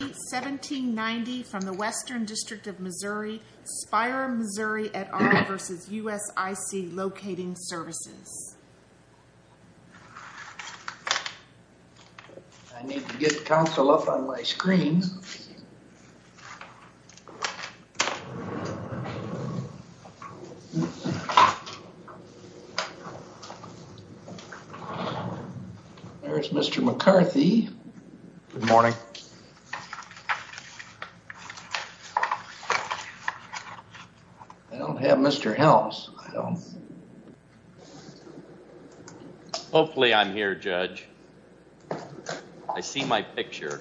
1790 from the Western District of Missouri, Spire Missouri v. USIC Locating Services. I need to get counsel up on my screen. There's Mr. McCarthy. Good morning. I don't have Mr. Helms. Hopefully I'm here, Judge. I see my picture.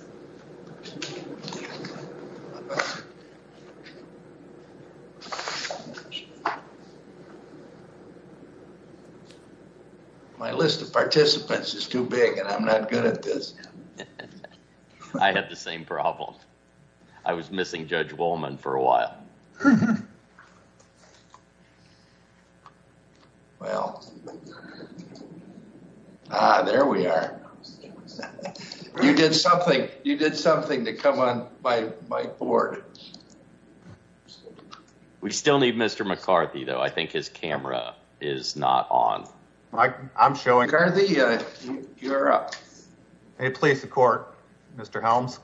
My list of participants is too big and I'm not good at this. I had the same problem. I was missing Judge Wollman for a while. Ah, there we are. You did something to come on my board. We still need Mr. McCarthy, though. I think his camera is not on. I'm showing. McCarthy, you're up. Hey, please support Mr. Helms.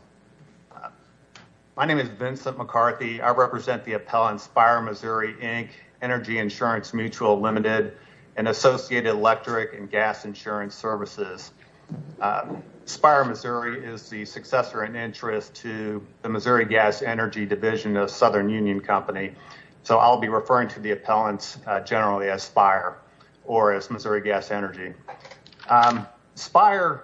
My name is Vincent McCarthy. I represent the appellant Spire Missouri Inc. Energy Insurance Mutual Limited and Associated Electric and Gas Insurance Services. Spire Missouri is the successor in interest to the Missouri Gas Energy Division of Southern Union Company. So I'll be referring to the appellants generally as Spire or as Missouri Gas Energy. Spire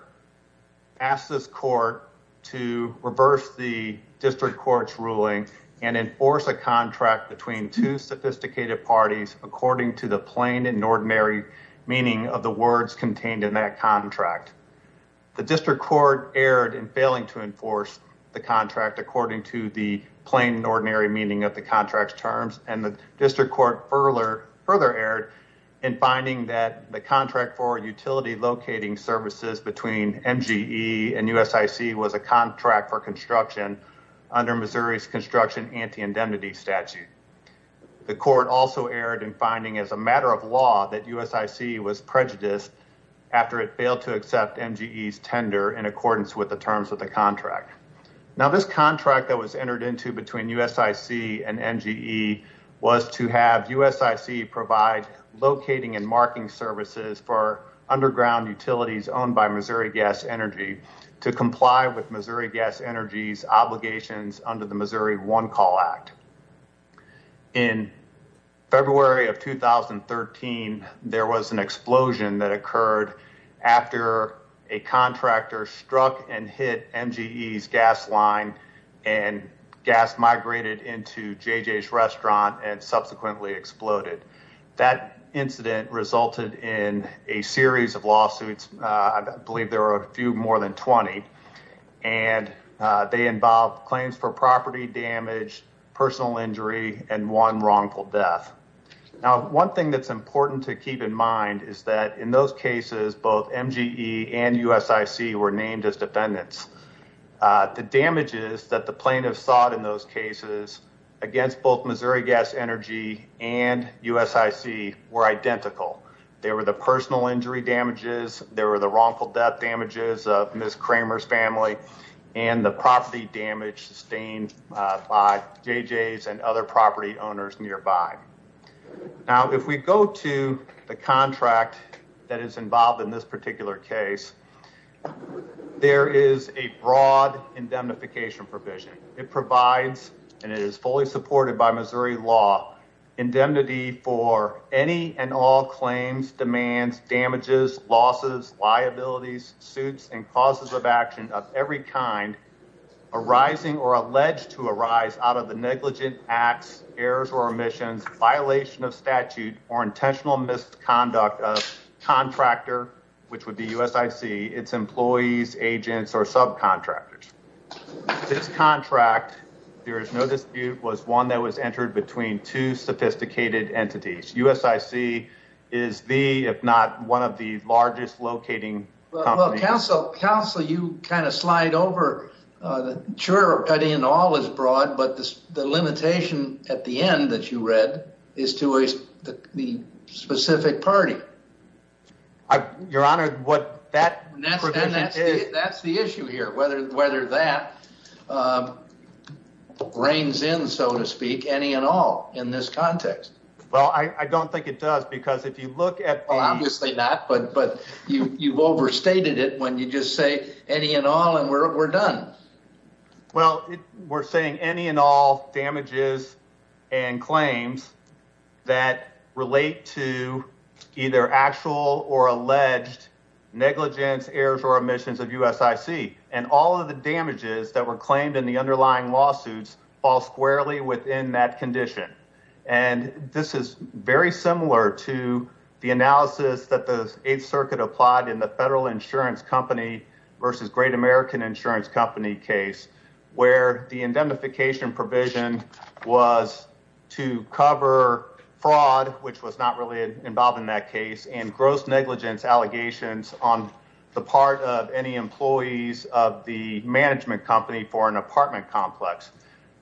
asked this court to reverse the district court's ruling and enforce a contract between two sophisticated parties according to the plain and ordinary meaning of the words contained in that contract. The district court erred in failing to enforce the contract according to the plain and ordinary meaning of the contract's terms, and the district court further erred in finding that the contract for utility locating services between MGE and USIC was a contract for construction under Missouri's construction anti-indemnity statute. The court also erred in finding as a matter of law that USIC was prejudiced after it failed to accept MGE's tender in accordance with the terms of the contract. Now, this contract that was entered into between USIC and MGE was to have USIC provide locating and marking services for underground utilities owned by Missouri Gas Energy to comply with Missouri Gas Energy's obligations under the Missouri One Call Act. In February of 2013, there was an explosion that occurred after a contractor struck and hit MGE's gas line and gas migrated into JJ's restaurant and subsequently exploded. That incident resulted in a series of lawsuits, I believe there were a few more than 20, and they involved claims for property damage, personal injury, and one wrongful death. Now, one thing that's important to keep in mind is that in those cases, both MGE and USIC were named as defendants. The damages that the plaintiffs sought in those cases against both Missouri Gas Energy and USIC were identical. There were the personal injury damages, there were the wrongful death damages of Ms. Kramer's family, and the property damage sustained by JJ's and other property owners nearby. Now, if we go to the contract that is involved in this particular case, there is a broad indemnification provision. It provides, and it is fully supported by Missouri law, indemnity for any and all claims, demands, damages, losses, liabilities, suits, and causes of action of every kind arising or alleged to arise out of the negligent acts, errors or omissions, violation of statute, or intentional misconduct of contractor, which would be USIC, its employees, agents, or subcontractors. This contract, there is no dispute, was one that was entered between two sophisticated entities. USIC is the, if not one of the largest locating companies. Well, counsel, you kind of slide over. Sure, cutting it all is broad, but the limitation at the end that you read is to the specific party. Your Honor, what that provision is... ...reigns in, so to speak, any and all in this context. Well, I don't think it does because if you look at... Well, obviously not, but you've overstated it when you just say any and all and we're done. Well, we're saying any and all damages and claims that relate to either actual or alleged negligence, errors, or omissions of USIC. And all of the damages that were claimed in the underlying lawsuits fall squarely within that condition. And this is very similar to the analysis that the Eighth Circuit applied in the Federal Insurance Company v. Great American Insurance Company case, where the indemnification provision was to cover fraud, which was not really involved in that case, and gross negligence allegations on the part of any employees of the management company for an apartment complex.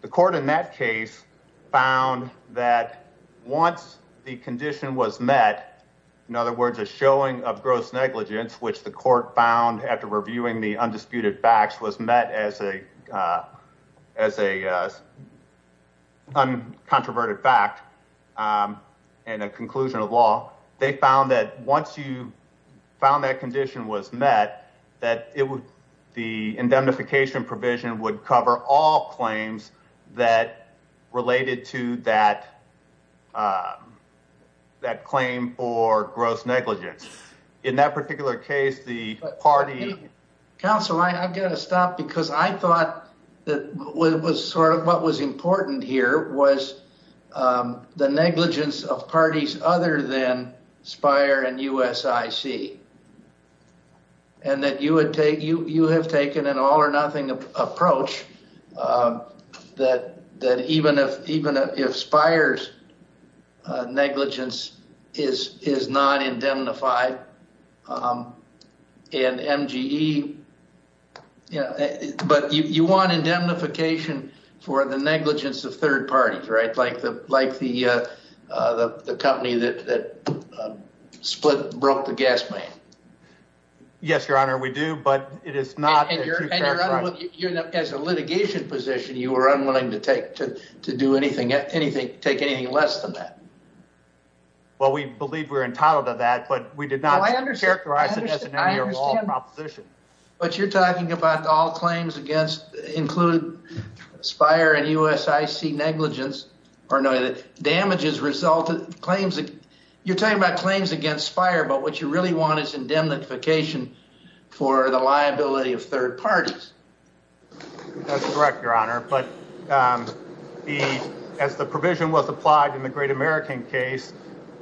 The court in that case found that once the condition was met, in other words, a showing of gross negligence, which the court found after reviewing the undisputed facts, was met as an uncontroverted fact and a conclusion of law. They found that once you found that condition was met, that the indemnification provision would cover all claims that related to that claim for gross negligence. In that particular case, the party... Spire and USIC. And that you have taken an all-or-nothing approach that even if Spire's negligence is not indemnified, and MGE... But you want indemnification for the negligence of third parties, right? Like the company that broke the gas pipe. Yes, Your Honor, we do, but it is not... And Your Honor, as a litigation position, you were unwilling to take anything less than that. Well, we believe we're entitled to that, but we did not characterize it as any or all proposition. But you're talking about all claims against... include Spire and USIC negligence, or no, the damages resulted... You're talking about claims against Spire, but what you really want is indemnification for the liability of third parties. That's correct, Your Honor, but as the provision was applied in the Great American case,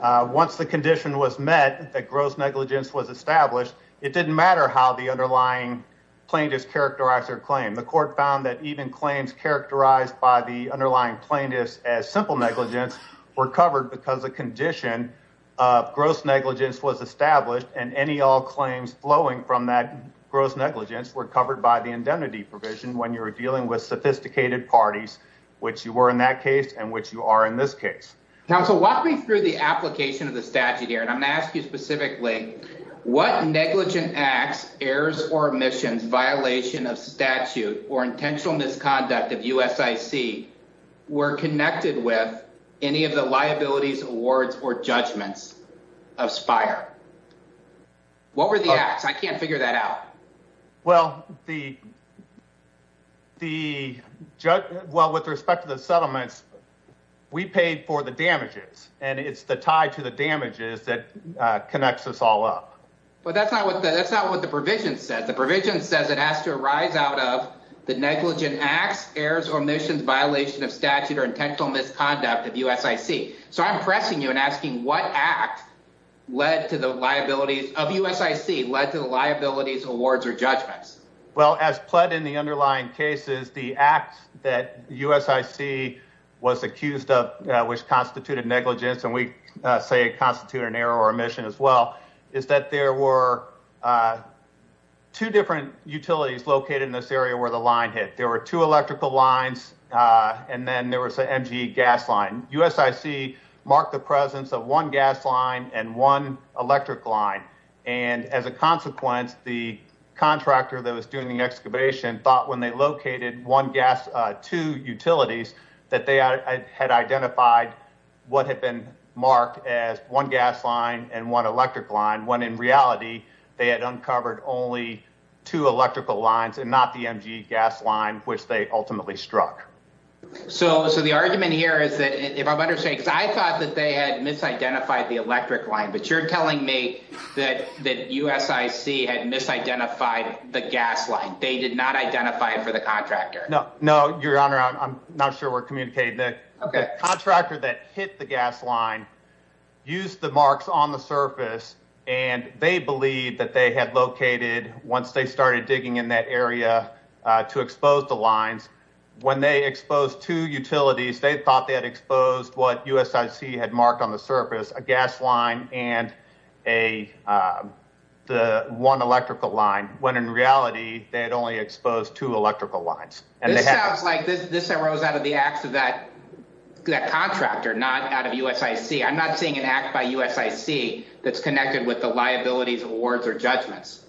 once the condition was met that gross negligence was established, it didn't matter how the underlying plaintiffs characterized their claim. The court found that even claims characterized by the underlying plaintiffs as simple negligence were covered because the condition of gross negligence was established, and any or all claims flowing from that gross negligence were covered by the indemnity provision when you were dealing with sophisticated parties, which you were in that case and which you are in this case. Counsel, walk me through the application of the statute here, and I'm going to ask you specifically, what negligent acts, errors, or omissions, violation of statute, or intentional misconduct of USIC were connected with any of the liabilities, awards, or judgments of Spire? What were the acts? I can't figure that out. Well, with respect to the settlements, we paid for the damages, and it's the tie to the damages that connects us all up. But that's not what the provision says. The provision says it has to arise out of the negligent acts, errors, or omissions, violation of statute, or intentional misconduct of USIC. So I'm pressing you and asking, what act of USIC led to the liabilities, awards, or judgments? Well, as pled in the underlying cases, the act that USIC was accused of, which constituted negligence, and we say it constituted an error or omission as well, is that there were two different utilities located in this area where the line hit. There were two electrical lines, and then there was an MGE gas line. USIC marked the presence of one gas line and one electric line, and as a consequence, the contractor that was doing the excavation thought when they located two utilities that they had identified what had been marked as one gas line and one electric line, when in reality, they had uncovered only two electrical lines and not the MGE gas line, which they ultimately struck. So the argument here is that if I'm understanding, because I thought that they had misidentified the electric line, but you're telling me that USIC had misidentified the gas line. They did not identify it for the contractor. No, Your Honor, I'm not sure we're communicating. The contractor that hit the gas line used the marks on the surface, and they believed that they had located, once they started digging in that area to expose the lines, when they exposed two utilities, they thought they had exposed what USIC had marked on the surface, a gas line and one electrical line, when in reality, they had only exposed two electrical lines. This sounds like this arose out of the acts of that contractor, not out of USIC. I'm not seeing an act by USIC that's connected with the liabilities of awards or judgments.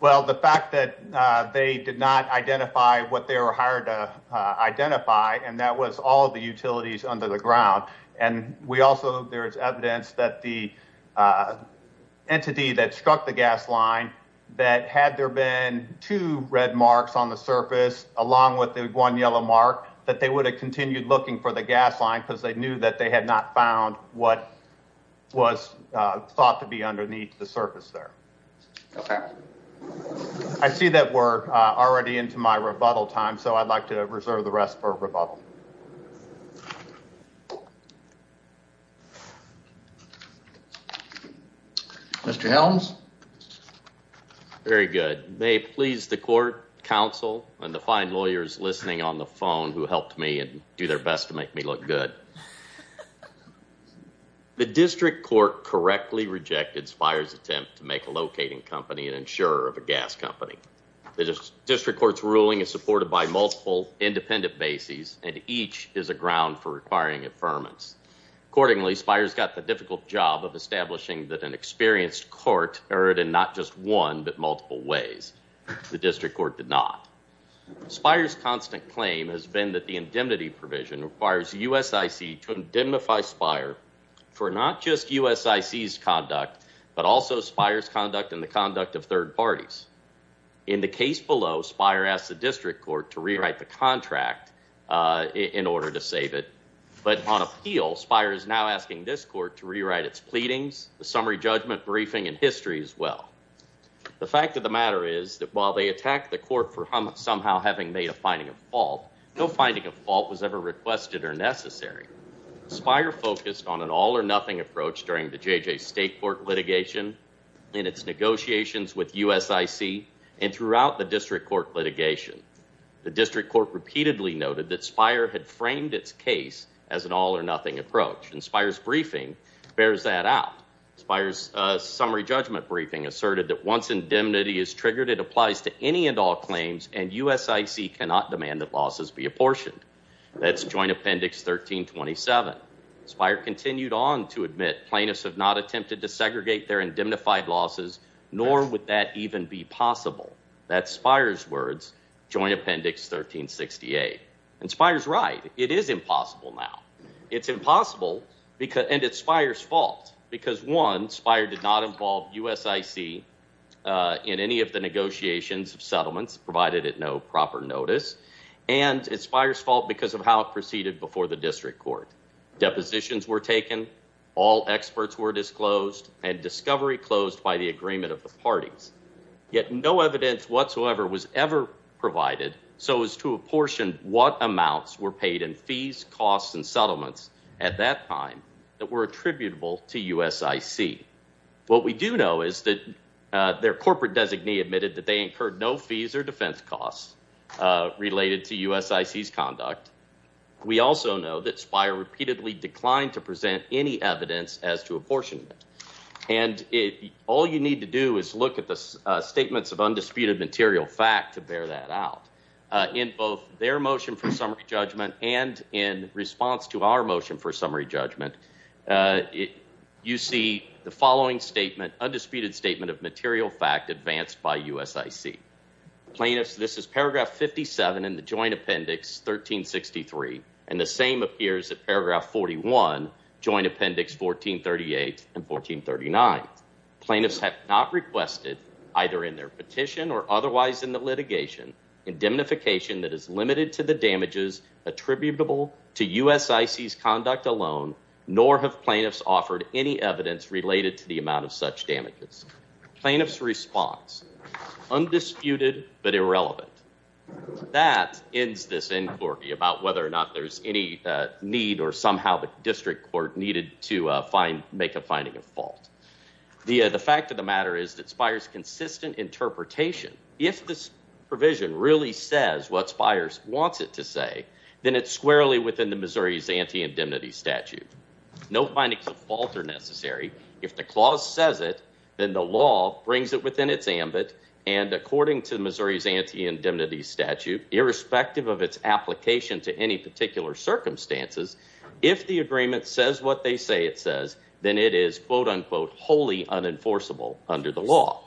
Well, the fact that they did not identify what they were hired to identify, and that was all the utilities under the ground. And we also there is evidence that the entity that struck the gas line, that had there been two red marks on the surface, along with the one yellow mark, that they would have continued looking for the gas line because they knew that they had not found what was thought to be underneath the surface there. Okay. I see that we're already into my rebuttal time, so I'd like to reserve the rest for rebuttal. Mr. Helms. Very good. May it please the court, counsel, and the fine lawyers listening on the phone who helped me and do their best to make me look good. The district court correctly rejected Spire's attempt to make a locating company an insurer of a gas company. The district court's ruling is supported by multiple independent bases, and each is a ground for requiring affirmance. Accordingly, Spire's got the difficult job of establishing that an experienced court erred in not just one, but multiple ways. The district court did not. Spire's constant claim has been that the indemnity provision requires USIC to indemnify Spire for not just USIC's conduct, but also Spire's conduct and the conduct of third parties. In the case below, Spire asked the district court to rewrite the contract in order to save it. But on appeal, Spire is now asking this court to rewrite its pleadings, the summary judgment briefing, and history as well. The fact of the matter is that while they attacked the court for somehow having made a finding of fault, no finding of fault was ever requested or necessary. Spire focused on an all-or-nothing approach during the J.J. State court litigation, in its negotiations with USIC, and throughout the district court litigation. The district court repeatedly noted that Spire had framed its case as an all-or-nothing approach, and Spire's briefing bears that out. Spire's summary judgment briefing asserted that once indemnity is triggered, it applies to any and all claims, and USIC cannot demand that losses be apportioned. That's Joint Appendix 1327. Spire continued on to admit plaintiffs have not attempted to segregate their indemnified losses, nor would that even be possible. That's Spire's words, Joint Appendix 1368. And Spire's right. It is impossible now. It's impossible, and it's Spire's fault, because one, Spire did not involve USIC in any of the negotiations of settlements, provided at no proper notice, and it's Spire's fault because of how it proceeded before the district court. Depositions were taken, all experts were disclosed, and discovery closed by the agreement of the parties. Yet no evidence whatsoever was ever provided so as to apportion what amounts were paid in fees, costs, and settlements at that time that were attributable to USIC. What we do know is that their corporate designee admitted that they incurred no fees or defense costs related to USIC's conduct. We also know that Spire repeatedly declined to present any evidence as to apportionment, and all you need to do is look at the statements of undisputed material fact to bear that out. In both their motion for summary judgment and in response to our motion for summary judgment, you see the following statement, undisputed statement of material fact advanced by USIC. Plaintiffs, this is paragraph 57 in the joint appendix 1363, and the same appears at paragraph 41, joint appendix 1438 and 1439. Plaintiffs have not requested, either in their petition or otherwise in the litigation, indemnification that is limited to the damages attributable to USIC's conduct alone, nor have plaintiffs offered any evidence related to the amount of such damages. Plaintiff's response, undisputed but irrelevant. That ends this inquiry about whether or not there's any need or somehow the district court needed to make a finding of fault. The fact of the matter is that Spire's consistent interpretation, if this provision really says what Spire wants it to say, then it's squarely within the Missouri's anti-indemnity statute. No findings of fault are necessary. If the clause says it, then the law brings it within its ambit. And according to Missouri's anti-indemnity statute, irrespective of its application to any particular circumstances, if the agreement says what they say it says, then it is, quote unquote, wholly unenforceable under the law.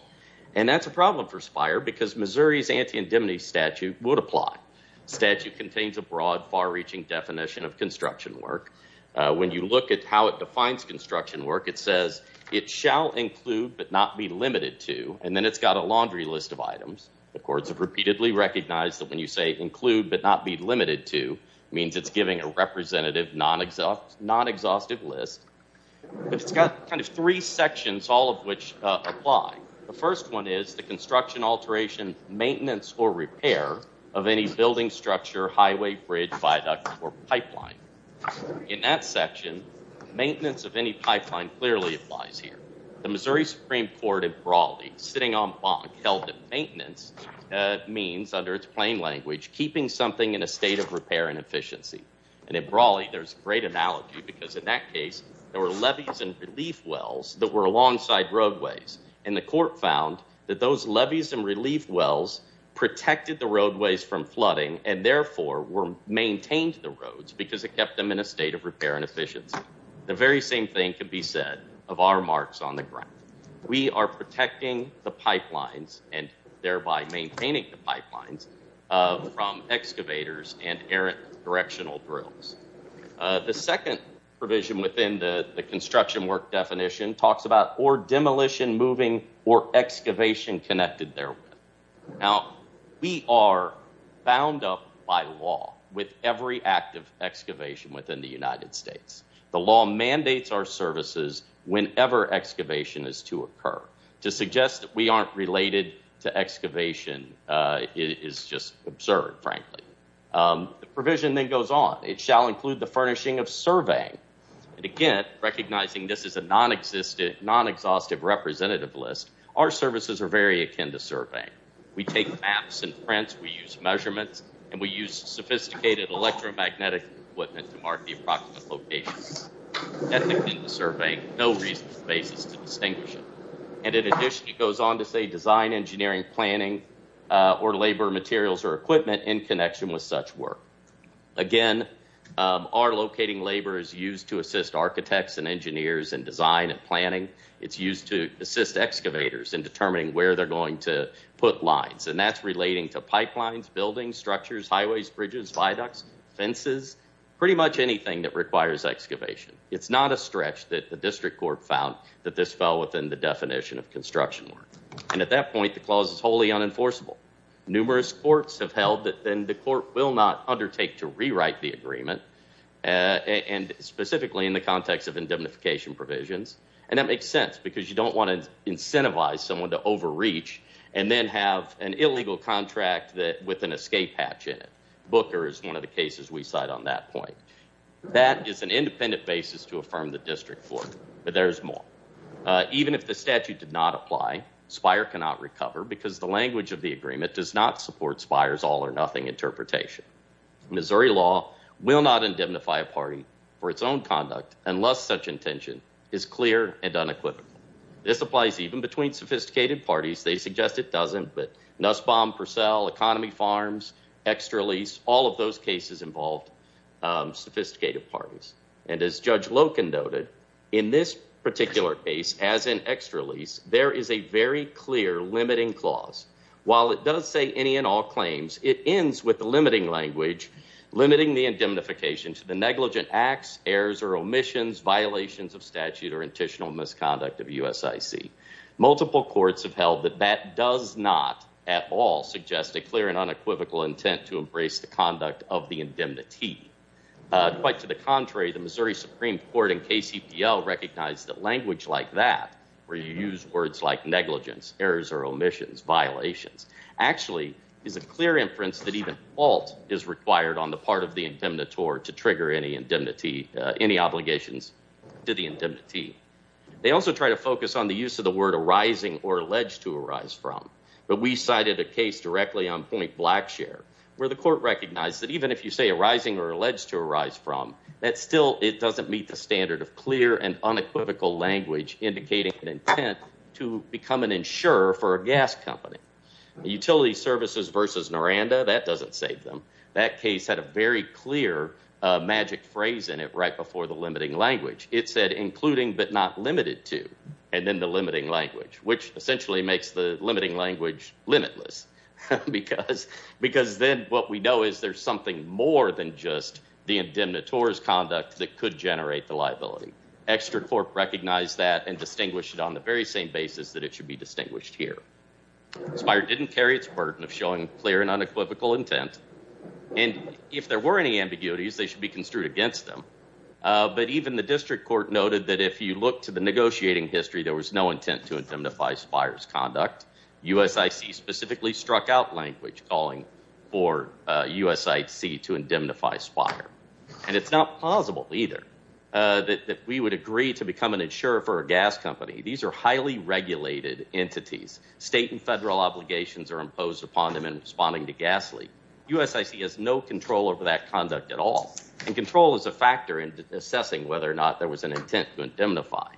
And that's a problem for Spire because Missouri's anti-indemnity statute would apply. The statute contains a broad, far-reaching definition of construction work. When you look at how it defines construction work, it says it shall include but not be limited to. And then it's got a laundry list of items. The courts have repeatedly recognized that when you say include but not be limited to, it means it's giving a representative, non-exhaustive list. But it's got kind of three sections, all of which apply. The first one is the construction alteration, maintenance, or repair of any building structure, highway, bridge, viaduct, or pipeline. In that section, maintenance of any pipeline clearly applies here. The Missouri Supreme Court in Brawley, sitting on bonk, held that maintenance means, under its plain language, keeping something in a state of repair and efficiency. And in Brawley, there's a great analogy because in that case, there were levees and relief wells that were alongside roadways. And the court found that those levees and relief wells protected the roadways from flooding and therefore maintained the roads because it kept them in a state of repair and efficiency. The very same thing could be said of our marks on the ground. We are protecting the pipelines and thereby maintaining the pipelines from excavators and errant directional drills. The second provision within the construction work definition talks about or demolition, moving, or excavation connected therewith. Now, we are bound up by law with every act of excavation within the United States. The law mandates our services whenever excavation is to occur. To suggest that we aren't related to excavation is just absurd, frankly. The provision then goes on. It shall include the furnishing of surveying. And again, recognizing this is a non-existent, non-exhaustive representative list, our services are very akin to surveying. We take maps and prints, we use measurements, and we use sophisticated electromagnetic equipment to mark the approximate location. That's akin to surveying, no reason or basis to distinguish it. And it goes on to say design, engineering, planning, or labor materials or equipment in connection with such work. Again, our locating labor is used to assist architects and engineers in design and planning. It's used to assist excavators in determining where they're going to put lines. And that's relating to pipelines, buildings, structures, highways, bridges, viaducts, fences, pretty much anything that requires excavation. It's not a stretch that the district court found that this fell within the definition of construction work. And at that point, the clause is wholly unenforceable. Numerous courts have held that then the court will not undertake to rewrite the agreement, and specifically in the context of indemnification provisions. And that makes sense because you don't want to incentivize someone to overreach and then have an illegal contract with an escape hatch in it. Booker is one of the cases we cite on that point. That is an independent basis to affirm the district court, but there's more. Even if the statute did not apply, Spire cannot recover because the language of the agreement does not support Spire's all or nothing interpretation. Missouri law will not indemnify a party for its own conduct unless such intention is clear and unequivocal. This applies even between sophisticated parties. They suggest it doesn't, but Nussbaum, Purcell, Economy Farms, Extra Lease, all of those cases involved sophisticated parties. And as Judge Loken noted, in this particular case, as in Extra Lease, there is a very clear limiting clause. While it does say any and all claims, it ends with the limiting language, limiting the indemnification to the negligent acts, errors, or omissions, violations of statute or intentional misconduct of USIC. Multiple courts have held that that does not at all suggest a clear and unequivocal intent to embrace the conduct of the indemnity. Quite to the contrary, the Missouri Supreme Court and KCPL recognize that language like that, where you use words like negligence, errors, or omissions, violations, actually is a clear inference that even fault is required on the part of the indemnitor to trigger any obligations to the indemnity. They also try to focus on the use of the word arising or alleged to arise from. But we cited a case directly on Point Blackshare, where the court recognized that even if you say arising or alleged to arise from, that still it doesn't meet the standard of clear and unequivocal language indicating an intent to become an insurer for a gas company. Utility Services v. Noranda, that doesn't save them. That case had a very clear magic phrase in it right before the limiting language. It said including but not limited to, and then the limiting language, which essentially makes the limiting language limitless. Because then what we know is there's something more than just the indemnitor's conduct that could generate the liability. ExtraCorp recognized that and distinguished it on the very same basis that it should be distinguished here. Spire didn't carry its burden of showing clear and unequivocal intent. And if there were any ambiguities, they should be construed against them. But even the district court noted that if you look to the negotiating history, there was no intent to indemnify Spire's conduct. USIC specifically struck out language calling for USIC to indemnify Spire. And it's not plausible either that we would agree to become an insurer for a gas company. These are highly regulated entities. State and federal obligations are imposed upon them in responding to gas leak. USIC has no control over that conduct at all. And control is a factor in assessing whether or not there was an intent to indemnify.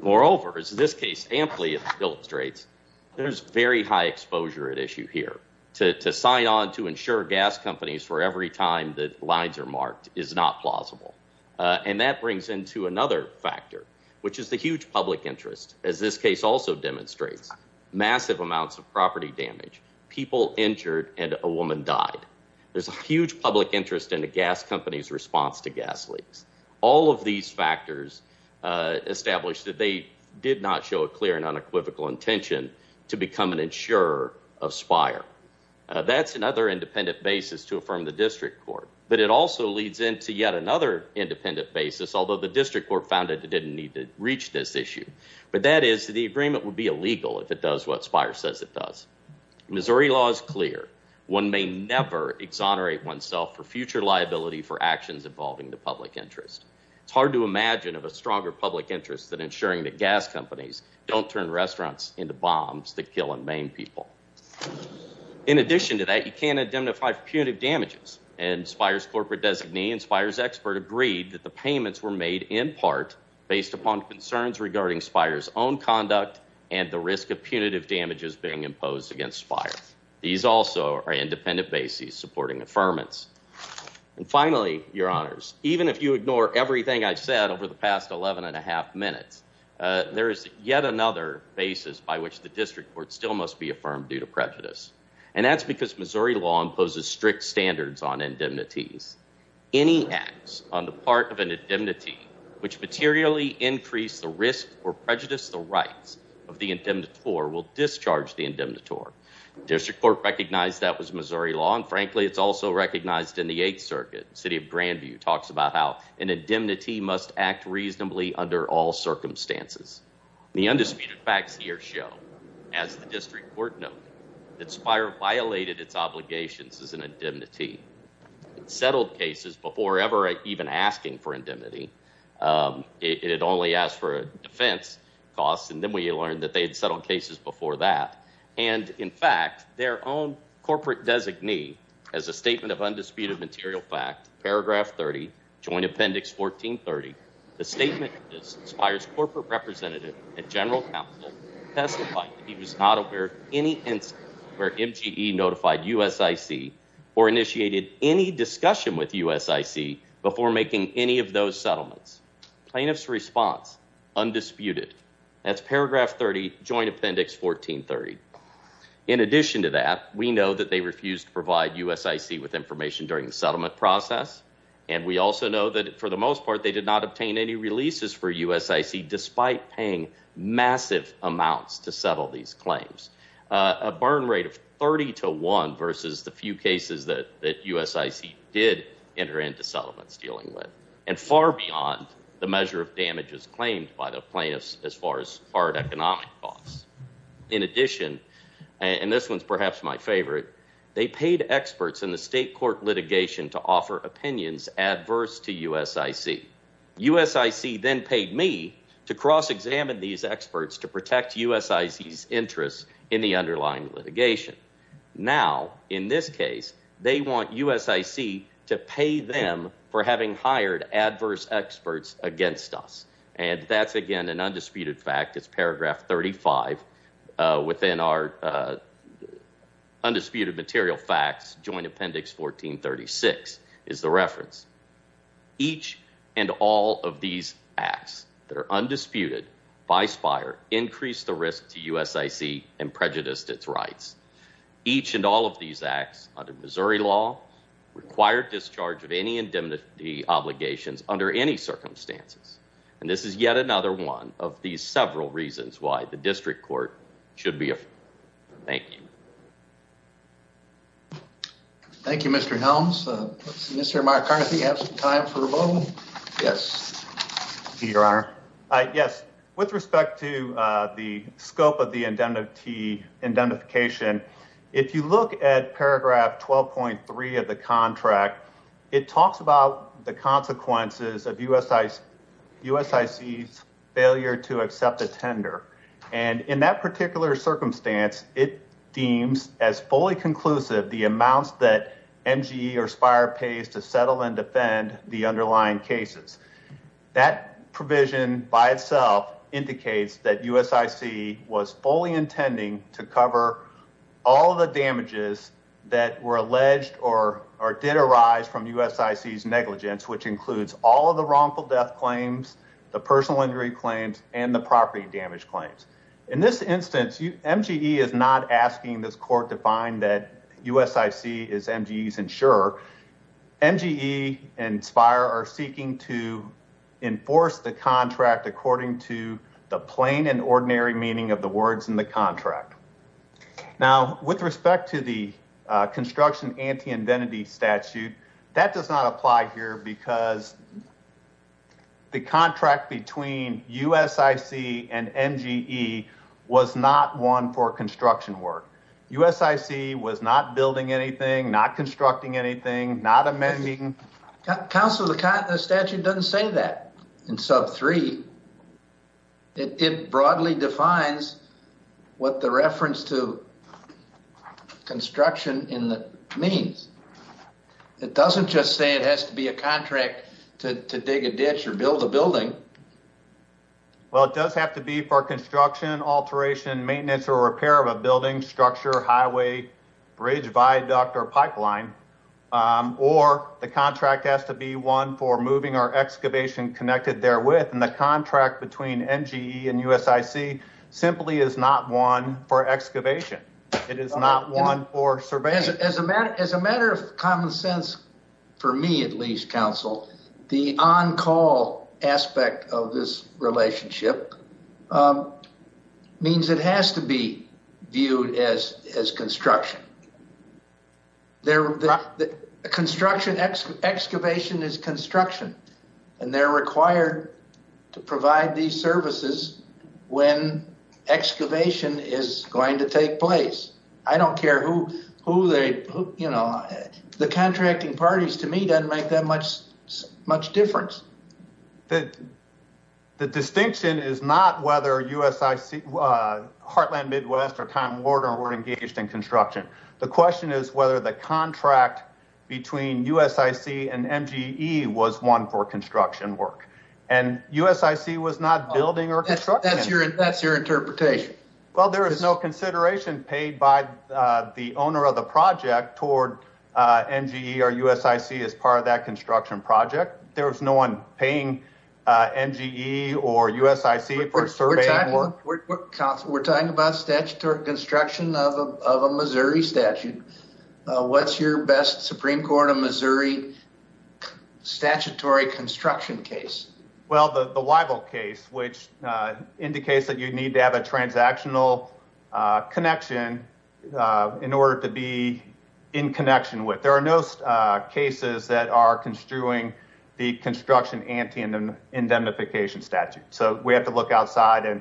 Moreover, as this case amply illustrates, there's very high exposure at issue here. To sign on to insure gas companies for every time that lines are marked is not plausible. And that brings into another factor, which is the huge public interest, as this case also demonstrates. Massive amounts of property damage, people injured, and a woman died. There's a huge public interest in a gas company's response to gas leaks. All of these factors establish that they did not show a clear and unequivocal intention to become an insurer of Spire. That's another independent basis to affirm the district court. But it also leads into yet another independent basis, although the district court found it didn't need to reach this issue. But that is that the agreement would be illegal if it does what Spire says it does. Missouri law is clear. One may never exonerate oneself for future liability for actions involving the public interest. It's hard to imagine of a stronger public interest than insuring that gas companies don't turn restaurants into bombs that kill and maim people. In addition to that, you can't indemnify for punitive damages. And Spire's corporate designee and Spire's expert agreed that the payments were made in part based upon concerns regarding Spire's own conduct and the risk of punitive damages being imposed against Spire. These also are independent bases supporting affirmance. And finally, your honors, even if you ignore everything I've said over the past 11 and a half minutes, there is yet another basis by which the district court still must be affirmed due to prejudice. And that's because Missouri law imposes strict standards on indemnities. Any acts on the part of an indemnity which materially increase the risk or prejudice the rights of the indemnitor will discharge the indemnitor. District Court recognized that was Missouri law, and frankly, it's also recognized in the Eighth Circuit. City of Grandview talks about how an indemnity must act reasonably under all circumstances. The undisputed facts here show, as the district court noted, that Spire violated its obligations as an indemnity. It settled cases before ever even asking for indemnity. It had only asked for a defense cost, and then we learned that they had settled cases before that. And in fact, their own corporate designee, as a statement of undisputed material fact, paragraph 30, joint appendix 1430, the statement of this inspires corporate representative and general counsel to testify if he was not aware of any instance where MGE notified USIC or initiated any discussion with USIC before making any of those settlements. Plaintiff's response, undisputed. That's paragraph 30, joint appendix 1430. In addition to that, we know that they refused to provide USIC with information during the settlement process, and we also know that, for the most part, they did not obtain any releases for USIC despite paying massive amounts to settle these claims. A burn rate of 30 to 1 versus the few cases that USIC did enter into settlements dealing with, and far beyond the measure of damages claimed by the plaintiffs as far as hard economic costs. In addition, and this one's perhaps my favorite, they paid experts in the state court litigation to offer opinions adverse to USIC. USIC then paid me to cross-examine these experts to protect USIC's interests in the underlying litigation. Now, in this case, they want USIC to pay them for having hired adverse experts against us. And that's, again, an undisputed fact. It's paragraph 35 within our undisputed material facts, joint appendix 1436, is the reference. Each and all of these acts that are undisputed by SPIRE increased the risk to USIC and prejudiced its rights. Each and all of these acts under Missouri law required discharge of any indemnity obligations under any circumstances. And this is yet another one of these several reasons why the district court should be afraid. Thank you. Thank you, Mr. Helms. Mr. McCarthy, you have some time for a vote. Yes. Your Honor. Yes. With respect to the scope of the indemnity indemnification, if you look at paragraph 12.3 of the contract, it talks about the consequences of USIC's failure to accept a tender. And in that particular circumstance, it deems as fully conclusive the amounts that MGE or SPIRE pays to settle and defend the underlying cases. That provision by itself indicates that USIC was fully intending to cover all the damages that were alleged or did arise from USIC's negligence, which includes all of the wrongful death claims, the personal injury claims and the property damage claims. In this instance, MGE is not asking this court to find that USIC is MGE's insurer. MGE and SPIRE are seeking to enforce the contract according to the plain and ordinary meaning of the words in the contract. Now, with respect to the construction anti-indentity statute, that does not apply here because the contract between USIC and MGE was not one for construction work. USIC was not building anything, not constructing anything, not amending. Council, the statute doesn't say that in sub three. It broadly defines what the reference to construction means. It doesn't just say it has to be a contract to dig a ditch or build a building. Well, it does have to be for construction, alteration, maintenance or repair of a building, structure, highway, bridge, viaduct or pipeline. Or the contract has to be one for moving or excavation connected therewith. And the contract between MGE and USIC simply is not one for excavation. It is not one for surveying. As a matter of common sense, for me at least, Council, the on-call aspect of this relationship means it has to be viewed as construction. Excavation is construction. And they're required to provide these services when excavation is going to take place. I don't care who they, you know, the contracting parties to me doesn't make that much difference. The distinction is not whether USIC, Heartland Midwest or Time Warner were engaged in construction. The question is whether the contract between USIC and MGE was one for construction work. And USIC was not building or constructing. That's your interpretation. Well, there is no consideration paid by the owner of the project toward MGE or USIC as part of that construction project. There is no one paying MGE or USIC for surveying work. Council, we're talking about statutory construction of a Missouri statute. What's your best Supreme Court of Missouri statutory construction case? Well, the Weibel case, which indicates that you need to have a transactional connection in order to be in connection with. But there are no cases that are construing the construction ante indemnification statute. So we have to look outside. And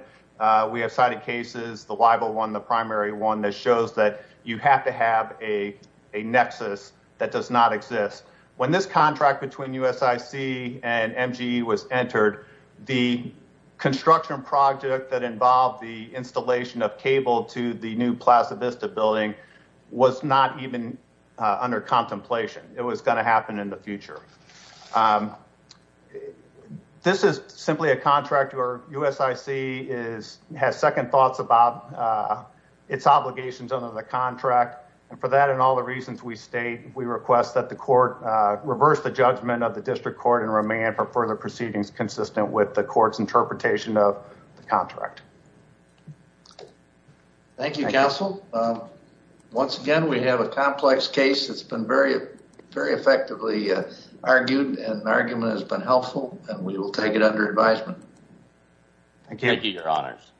we have cited cases, the Weibel one, the primary one that shows that you have to have a nexus that does not exist. When this contract between USIC and MGE was entered, the construction project that involved the installation of cable to the new Plaza Vista building was not even under contemplation. It was going to happen in the future. This is simply a contract where USIC has second thoughts about its obligations under the contract. And for that and all the reasons we state, we request that the court reverse the judgment of the district court and remain for further proceedings consistent with the court's interpretation of the contract. Thank you, Council. Once again, we have a complex case that's been very, very effectively argued and argument has been helpful and we will take it under advisement. Thank you, Your Honors.